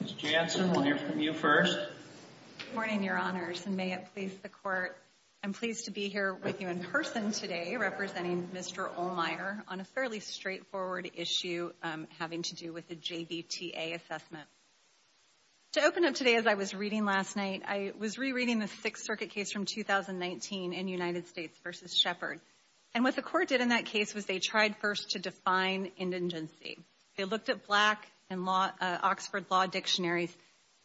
Ms. Jansen, we'll hear from you first. Good morning, Your Honors, and may it please the Court, I'm pleased to be here with you in person today representing Mr. Ohlmeier on a fairly straightforward issue having to do with the JVTA assessment. To open up today, as I was reading last night, I was rereading the Sixth Circuit case from 2019 in United States v. Shepard. And what the Court did in that case was they tried first to define indigency. They looked at Black and Oxford Law dictionaries,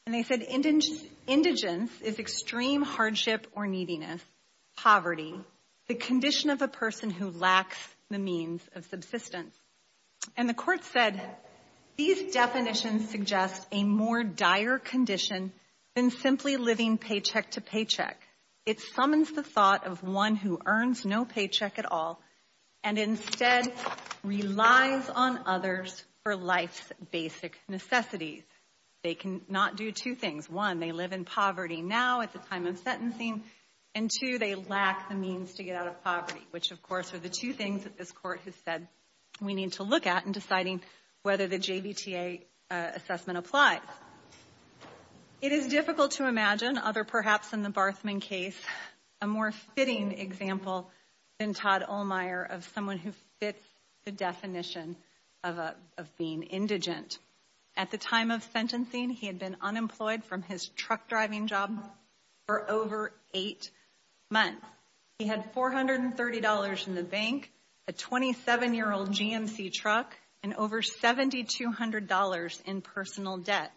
and they said, indigence is extreme hardship or neediness, poverty, the condition of a person who lacks the means of subsistence. And the Court said, these definitions suggest a more dire condition than simply living paycheck to paycheck. It summons the thought of one who earns no paycheck at all and instead relies on others for life's basic necessities. They cannot do two things. One, they live in poverty now at the time of sentencing, and two, they lack the means to get out of poverty, which, of course, are the two things that this Court has said we need to look at in deciding whether the JVTA assessment applies. It is difficult to imagine, other perhaps than the Barthman case, a more fitting example than Todd Ohlmeyer of someone who fits the definition of being indigent. At the time of sentencing, he had been unemployed from his truck driving job for over eight months. He had $430 in the bank, a 27-year-old GMC truck, and over $7,200 in personal debt.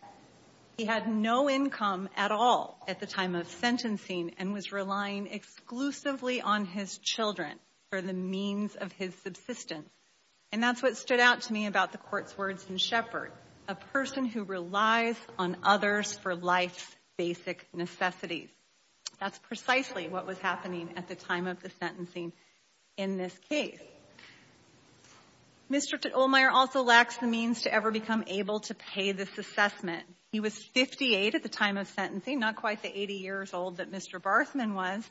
He had no income at all at the time of sentencing and was relying exclusively on his children for the means of his subsistence. And that's what stood out to me about the Court's words in Shepard, a person who relies on others for life's basic necessities. That's precisely what was happening at the time of the sentencing in this case. Mr. Ohlmeyer also lacks the means to ever become able to pay this assessment. He was 58 at the time of sentencing, not quite the 80 years old that Mr. Barthman was,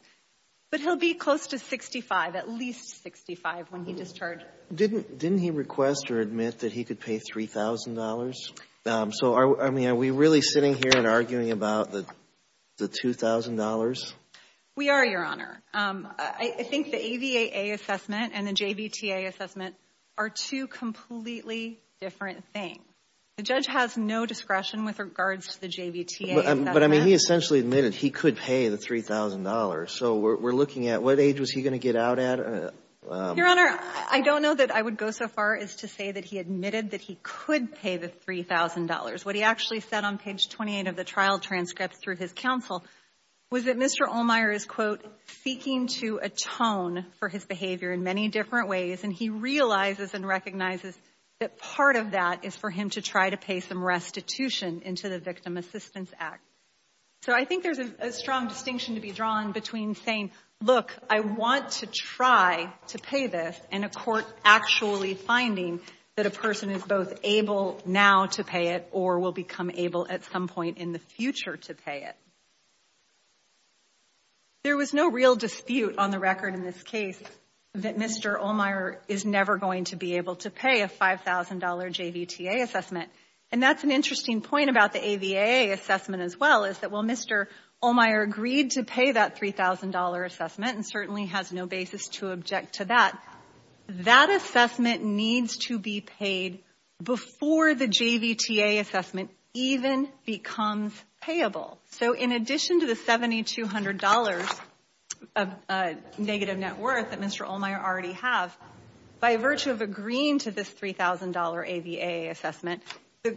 but he'll be close to 65, at least 65, when he discharged. Didn't he request or admit that he could pay $3,000? So, I mean, are we really sitting here and arguing about the $2,000? We are, Your Honor. I think the AVAA assessment and the JVTA assessment are two completely different things. The judge has no discretion with regards to the JVTA assessment. But, I mean, he essentially admitted he could pay the $3,000. So we're looking at what age was he going to get out at? Your Honor, I don't know that I would go so far as to say that he admitted that he could pay the $3,000. What he actually said on page 28 of the trial transcript through his counsel was that Mr. Ohlmeyer is, quote, seeking to atone for his behavior in many different ways. And he realizes and recognizes that part of that is for him to try to pay some restitution into the Victim Assistance Act. So I think there's a strong distinction to be drawn between saying, look, I want to try to pay this, and a court actually finding that a person is both able now to pay it or will become able at some point in the future to pay it. There was no real dispute on the record in this case that Mr. Ohlmeyer is never going to be able to pay a $5,000 JVTA assessment. And that's an interesting point about the AVA assessment as well, is that while Mr. Ohlmeyer agreed to pay that $3,000 assessment and certainly has no basis to object to that, that assessment needs to be paid before the JVTA assessment even becomes payable. So in addition to the $7,200 negative net worth that Mr. Ohlmeyer already has, by virtue of agreeing to this $3,000 AVA assessment,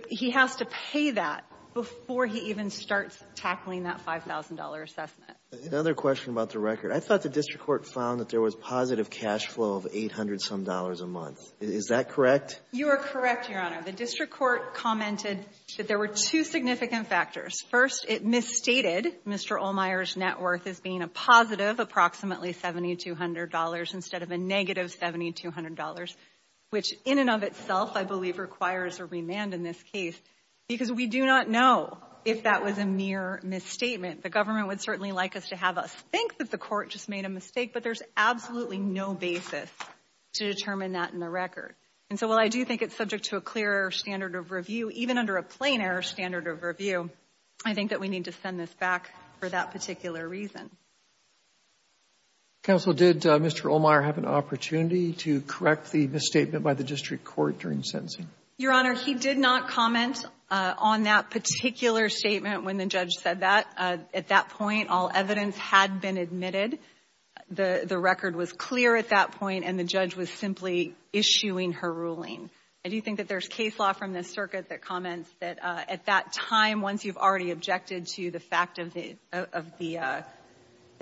he has to pay that before he even starts tackling that $5,000 assessment. Another question about the record. I thought the district court found that there was positive cash flow of $800-some a month. Is that correct? You are correct, Your Honor. The district court commented that there were two significant factors. First, it misstated Mr. Ohlmeyer's net worth as being a positive approximately $7,200 instead of a negative $7,200, which in and of itself I believe requires a remand in this case because we do not know if that was a mere misstatement. The government would certainly like us to have us think that the court just made a mistake, but there's absolutely no basis to determine that in the record. And so while I do think it's subject to a clear standard of review, even under a plain error standard of review, I think that we need to send this back for that particular reason. Counsel, did Mr. Ohlmeyer have an opportunity to correct the misstatement by the district court during sentencing? Your Honor, he did not comment on that particular statement when the judge said that. At that point, all evidence had been admitted. The record was clear at that point, and the judge was simply issuing her ruling. I do think that there's case law from this circuit that comments that at that time, once you've already objected to the fact of the – that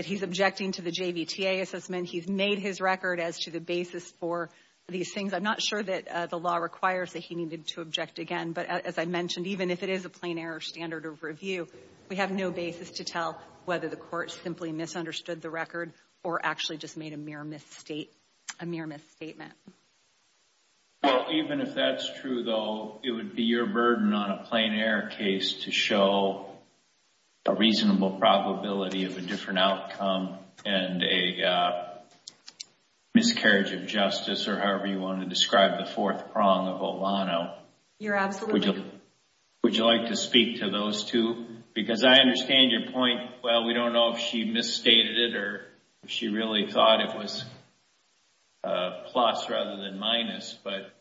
he's objecting to the JVTA assessment, he's made his record as to the basis for these things. I'm not sure that the law requires that he needed to object again, but as I mentioned, even if it is a plain error standard of review, we have no basis to tell whether the court simply misunderstood the record or actually just made a mere misstatement. Even if that's true, though, it would be your burden on a plain error case to show a reasonable probability of a different outcome and a miscarriage of justice or however you want to describe the fourth prong of Ohlano. You're absolutely correct. Would you like to speak to those two? Because I understand your point, well, we don't know if she misstated it or if she really thought it was plus rather than minus, but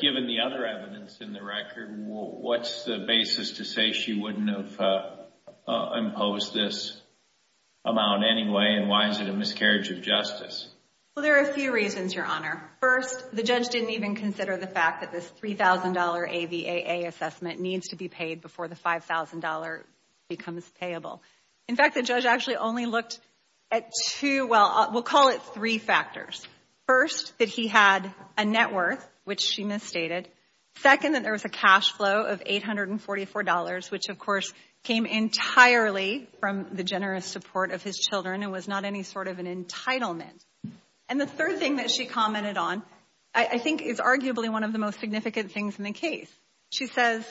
given the other evidence in the record, what's the basis to say she wouldn't have imposed this amount anyway, and why is it a miscarriage of justice? Well, there are a few reasons, Your Honor. First, the judge didn't even consider the fact that this $3,000 AVAA assessment needs to be paid before the $5,000 becomes payable. In fact, the judge actually only looked at two, well, we'll call it three factors. First, that he had a net worth, which she misstated. Second, that there was a cash flow of $844, which, of course, came entirely from the generous support of his children and was not any sort of an entitlement. And the third thing that she commented on, I think, is arguably one of the most significant things in the case. She says,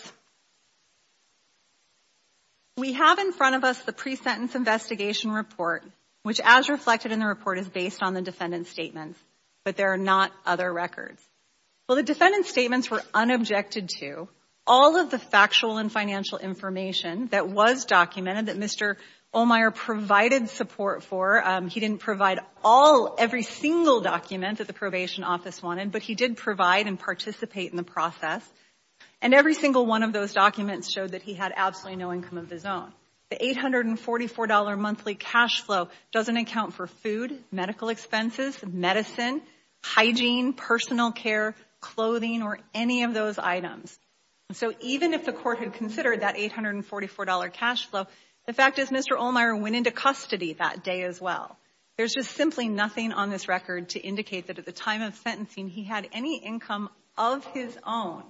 we have in front of us the pre-sentence investigation report, which as reflected in the report is based on the defendant's statements, but there are not other records. Well, the defendant's statements were unobjected to. All of the factual and financial information that was documented, that Mr. Ohlmeyer provided support for, he didn't provide all, every single document that the probation office wanted, but he did provide and participate in the process. And every single one of those documents showed that he had absolutely no income of his own. The $844 monthly cash flow doesn't account for food, medical expenses, medicine, hygiene, personal care, clothing, or any of those items. So even if the court had considered that $844 cash flow, the fact is Mr. Ohlmeyer went into custody that day as well. There's just simply nothing on this record to indicate that at the time of sentencing he had any income of his own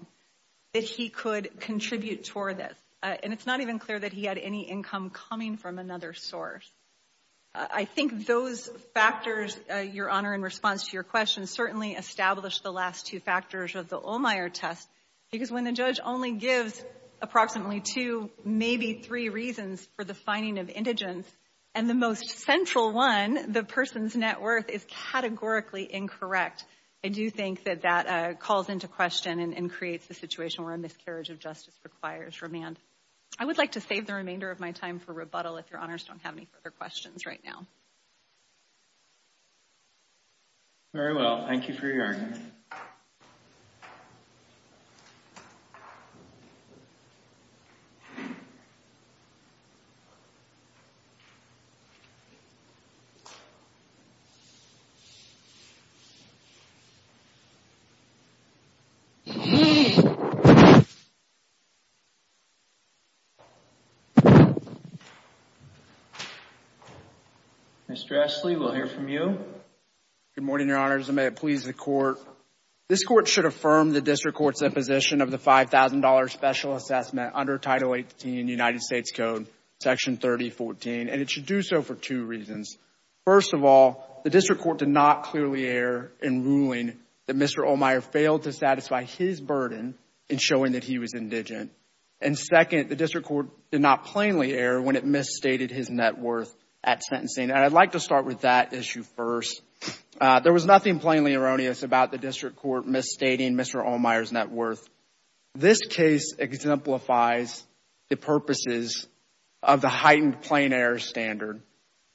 that he could contribute toward this. And it's not even clear that he had any income coming from another source. I think those factors, Your Honor, in response to your question, certainly established the last two factors of the Ohlmeyer test because when the judge only gives approximately two, maybe three reasons for the finding of indigence, and the most central one, the person's net worth, is categorically incorrect, I do think that that calls into question and creates the situation where a miscarriage of justice requires remand. I would like to save the remainder of my time for rebuttal if Your Honors don't have any further questions right now. Very well. Thank you for your hearing. Thank you. Ms. Dressley, we'll hear from you. Good morning, Your Honors, and may it please the court. This Court should affirm the district court's imposition of the $5,000 special assessment under Title 18 United States Code, Section 3014, and it should do so for two reasons. First of all, the district court did not clearly err in ruling that Mr. Ohlmeyer failed to satisfy his burden in showing that he was indigent. And second, the district court did not plainly err when it misstated his net worth at sentencing. And I'd like to start with that issue first. There was nothing plainly erroneous about the district court misstating Mr. Ohlmeyer's net worth. This case exemplifies the purposes of the heightened plein air standard.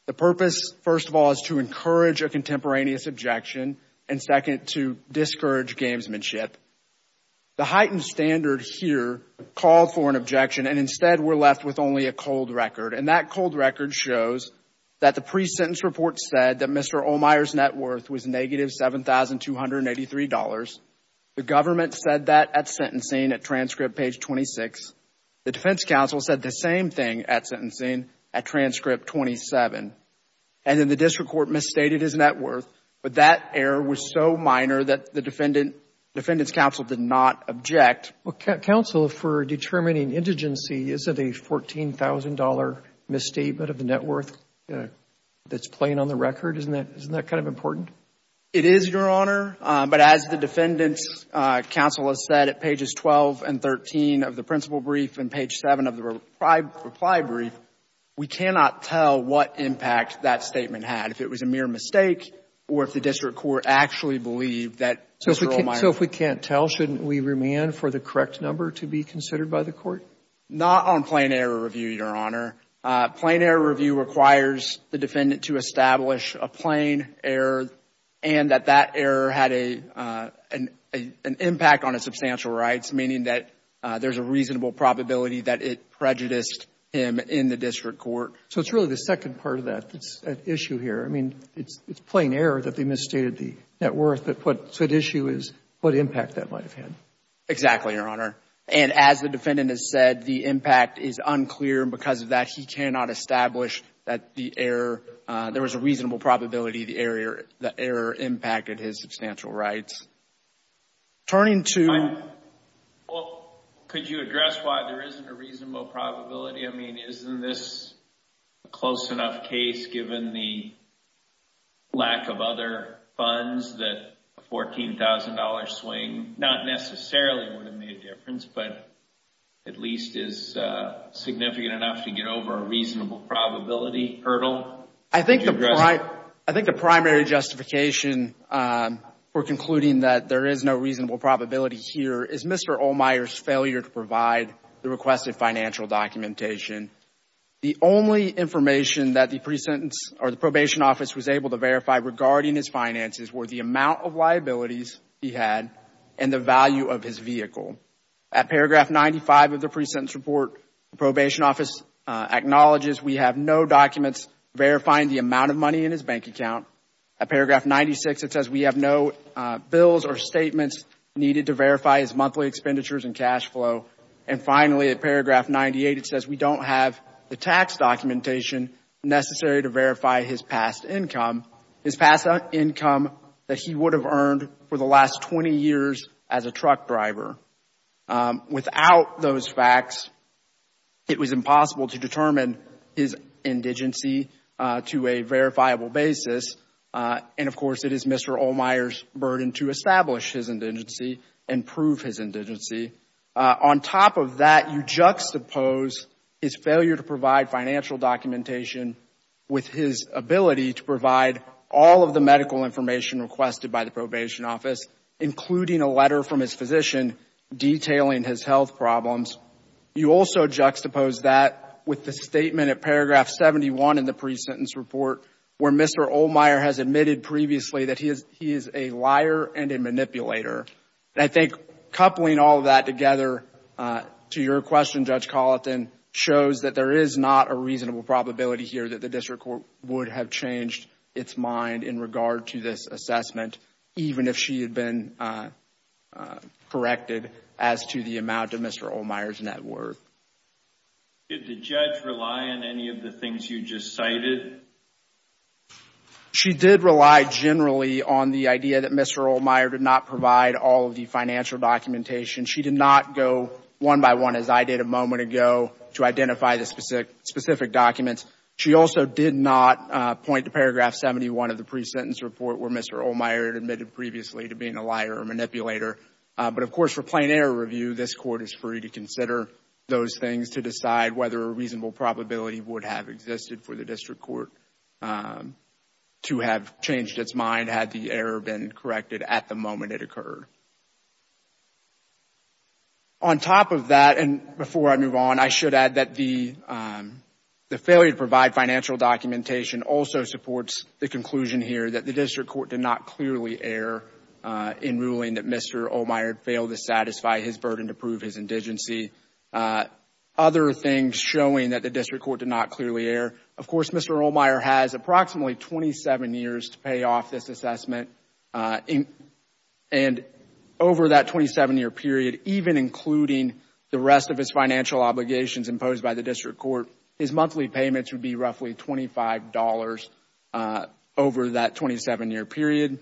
The purpose, first of all, is to encourage a contemporaneous objection, and second, to discourage gamesmanship. The heightened standard here called for an objection, and instead we're left with only a cold record. And that cold record shows that the pre-sentence report said that Mr. Ohlmeyer's net worth was negative $7,283. The government said that at sentencing at transcript page 26. The defense counsel said the same thing at sentencing at transcript 27. And then the district court misstated his net worth, but that error was so minor that the defendant's counsel did not object. Counsel, for determining indigency, is it a $14,000 misstatement of the net worth that's plain on the record? Isn't that kind of important? It is, Your Honor. But as the defendant's counsel has said at pages 12 and 13 of the principal brief and page 7 of the reply brief, we cannot tell what impact that statement had, if it was a mere mistake or if the district court actually believed that Mr. Ohlmeyer So if we can't tell, shouldn't we remand for the correct number to be considered by the court? Not on plain error review, Your Honor. Plain error review requires the defendant to establish a plain error and that that error had an impact on his substantial rights, meaning that there's a reasonable probability that it prejudiced him in the district court. So it's really the second part of that issue here. I mean, it's plain error that they misstated the net worth, but what's at issue is what impact that might have had. Exactly, Your Honor. And as the defendant has said, the impact is unclear, and because of that, he cannot establish that the error there was a reasonable probability the error impacted his substantial rights. Turning to Well, could you address why there isn't a reasonable probability? I mean, isn't this a close enough case given the lack of other funds that a $14,000 swing not necessarily would have made a difference, but at least is significant enough to get over a reasonable probability hurdle? I think the primary justification for concluding that there is no reasonable probability here is Mr. The only information that the pre-sentence or the probation office was able to verify regarding his finances were the amount of liabilities he had and the value of his vehicle. At paragraph 95 of the pre-sentence report, the probation office acknowledges we have no documents verifying the amount of money in his bank account. At paragraph 96, it says we have no bills or statements needed to verify his monthly expenditures and cash flow. And finally, at paragraph 98, it says we don't have the tax documentation necessary to verify his past income, his past income that he would have earned for the last 20 years as a truck driver. Without those facts, it was impossible to determine his indigency to a verifiable basis. And of course, it is Mr. Ohlmeyer's burden to establish his indigency and prove his indigency. On top of that, you juxtapose his failure to provide financial documentation with his ability to provide all of the medical information requested by the probation office, including a letter from his physician detailing his health problems. You also juxtapose that with the statement at paragraph 71 in the pre-sentence report where Mr. Ohlmeyer has admitted previously that he is a liar and a manipulator. And I think coupling all of that together to your question, Judge Colleton, shows that there is not a reasonable probability here that the district court would have changed its mind in regard to this assessment, even if she had been corrected as to the amount of Mr. Ohlmeyer's net worth. Did the judge rely on any of the things you just cited? She did rely generally on the idea that Mr. Ohlmeyer did not provide all of the financial documentation. She did not go one by one as I did a moment ago to identify the specific documents. She also did not point to paragraph 71 of the pre-sentence report where Mr. Ohlmeyer had admitted previously to being a liar or manipulator. But of course, for plain error review, this court is free to consider those things to decide whether a reasonable probability would have existed for the district court to have changed its mind had the error been corrected at the moment it occurred. On top of that, and before I move on, I should add that the failure to provide financial documentation also supports the conclusion here that the district court did not clearly err in ruling that Mr. Ohlmeyer failed to satisfy his burden to prove his indigency. Other things showing that the district court did not clearly err, of course, Mr. Ohlmeyer has approximately 27 years to pay off this assessment and over that 27-year period, even including the rest of his financial obligations imposed by the district court, his monthly payments would be roughly $25 over that 27-year period.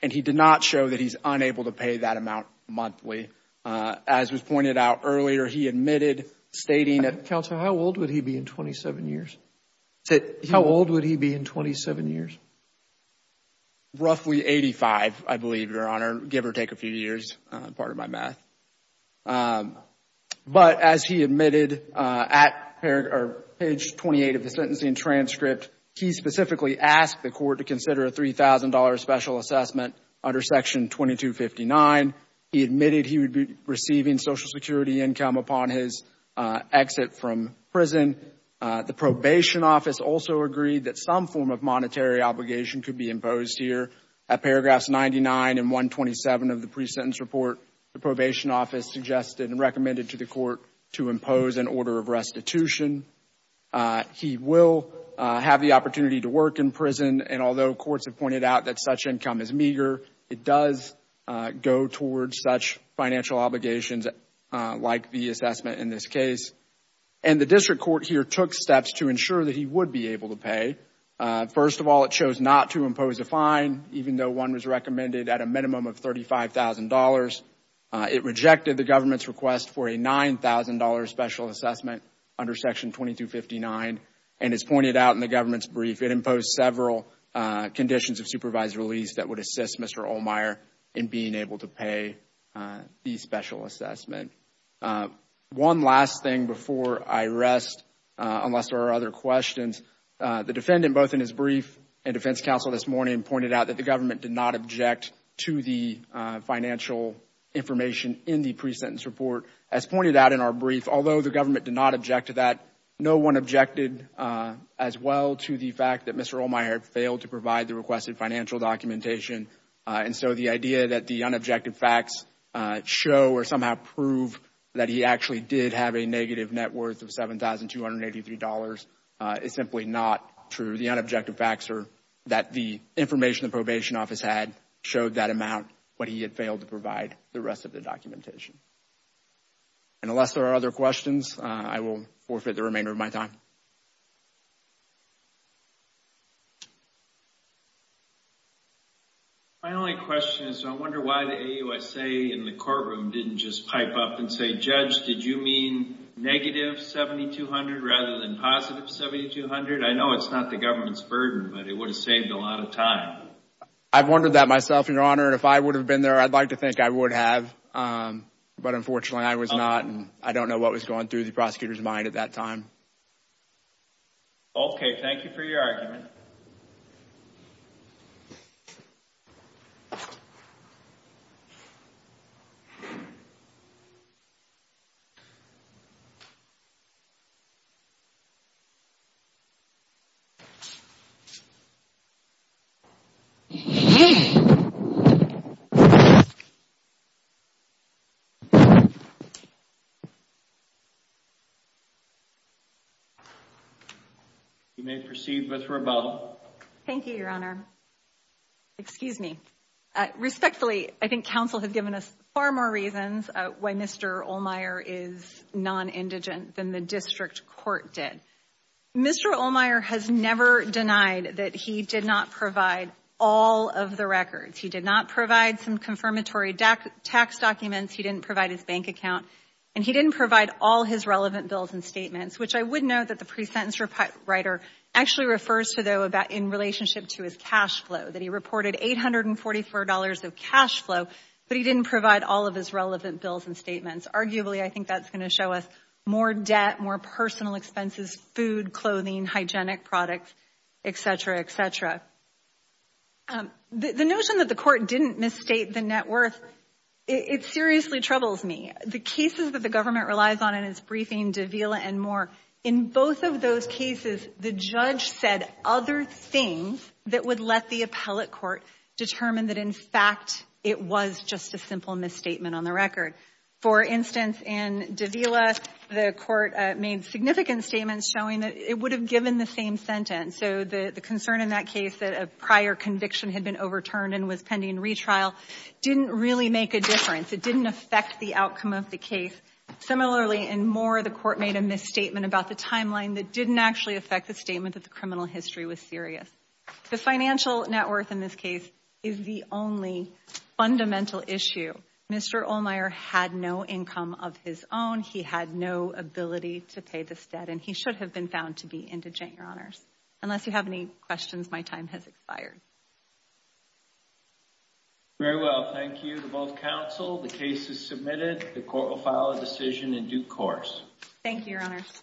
And he did not show that he's unable to pay that amount monthly. As was pointed out earlier, he admitted stating that Counsel, how old would he be in 27 years? How old would he be in 27 years? Roughly 85, I believe, Your Honor, give or take a few years. Pardon my math. But as he admitted at page 28 of the sentencing transcript, he specifically asked the court to consider a $3,000 special assessment under Section 2259. He admitted he would be receiving Social Security income upon his exit from prison. The probation office also agreed that some form of monetary obligation could be imposed here. At paragraphs 99 and 127 of the pre-sentence report, the probation office suggested and recommended to the court to impose an order of restitution. He will have the opportunity to work in prison. And although courts have pointed out that such income is meager, it does go towards such financial obligations like the assessment in this case. And the district court here took steps to ensure that he would be able to pay. First of all, it chose not to impose a fine, even though one was recommended at a minimum of $35,000. It rejected the government's request for a $9,000 special assessment under Section 2259. And as pointed out in the government's brief, it imposed several conditions of supervised release that would assist Mr. Ohlmeyer in being able to pay the special assessment. One last thing before I rest, unless there are other questions. The defendant, both in his brief and defense counsel this morning, pointed out that the government did not object to the financial information in the pre-sentence report. As pointed out in our brief, although the government did not object to that, no one objected as well to the fact that Mr. Ohlmeyer failed to provide the requested financial documentation. And so the idea that the unobjective facts show or somehow prove that he actually did have a negative net worth of $7,283 is simply not true. The unobjective facts are that the information the probation office had showed that amount when he had failed to provide the rest of the documentation. And unless there are other questions, I will forfeit the remainder of my time. My only question is, I wonder why the AUSA in the courtroom didn't just pipe up and say, Judge, did you mean negative $7,200 rather than positive $7,200? I know it's not the government's burden, but it would have saved a lot of time. I've wondered that myself, Your Honor. And if I would have been there, I'd like to think I would have. But unfortunately, I was not. I don't know what was going through the prosecutor's mind at that time. Okay, thank you for your argument. Okay. You may proceed with rebuttal. Thank you, Your Honor. Excuse me. Respectfully, I think counsel has given us far more reasons why Mr. Ohlmeyer is non-indigent than the district court did. Mr. Ohlmeyer has never denied that he did not provide all of the records. He did not provide some confirmatory tax documents. He didn't provide his bank account. And he didn't provide all his relevant bills and statements, which I would note that the pre-sentence writer actually refers to, though, in relationship to his cash flow, that he reported $844 of cash flow, but he didn't provide all of his relevant bills and statements. Arguably, I think that's going to show us more debt, more personal expenses, food, clothing, hygienic products, et cetera, et cetera. The notion that the court didn't misstate the net worth, it seriously troubles me. The cases that the government relies on in its briefing, Davila and more, in both of those cases, the judge said other things that would let the appellate court determine that, in fact, it was just a simple misstatement on the record. For instance, in Davila, the court made significant statements showing that it would have given the same sentence. So the concern in that case that a prior conviction had been overturned and was pending retrial didn't really make a difference. It didn't affect the outcome of the case. Similarly, in more, the court made a misstatement about the timeline that didn't actually affect the statement that the criminal history was serious. The financial net worth in this case is the only fundamental issue. Mr. Ohlmeyer had no income of his own. He had no ability to pay this debt, and he should have been found to be indigent, Your Honors. Unless you have any questions, my time has expired. Very well. Thank you to both counsel. The case is submitted. The court will file a decision in due course. Thank you, Your Honors.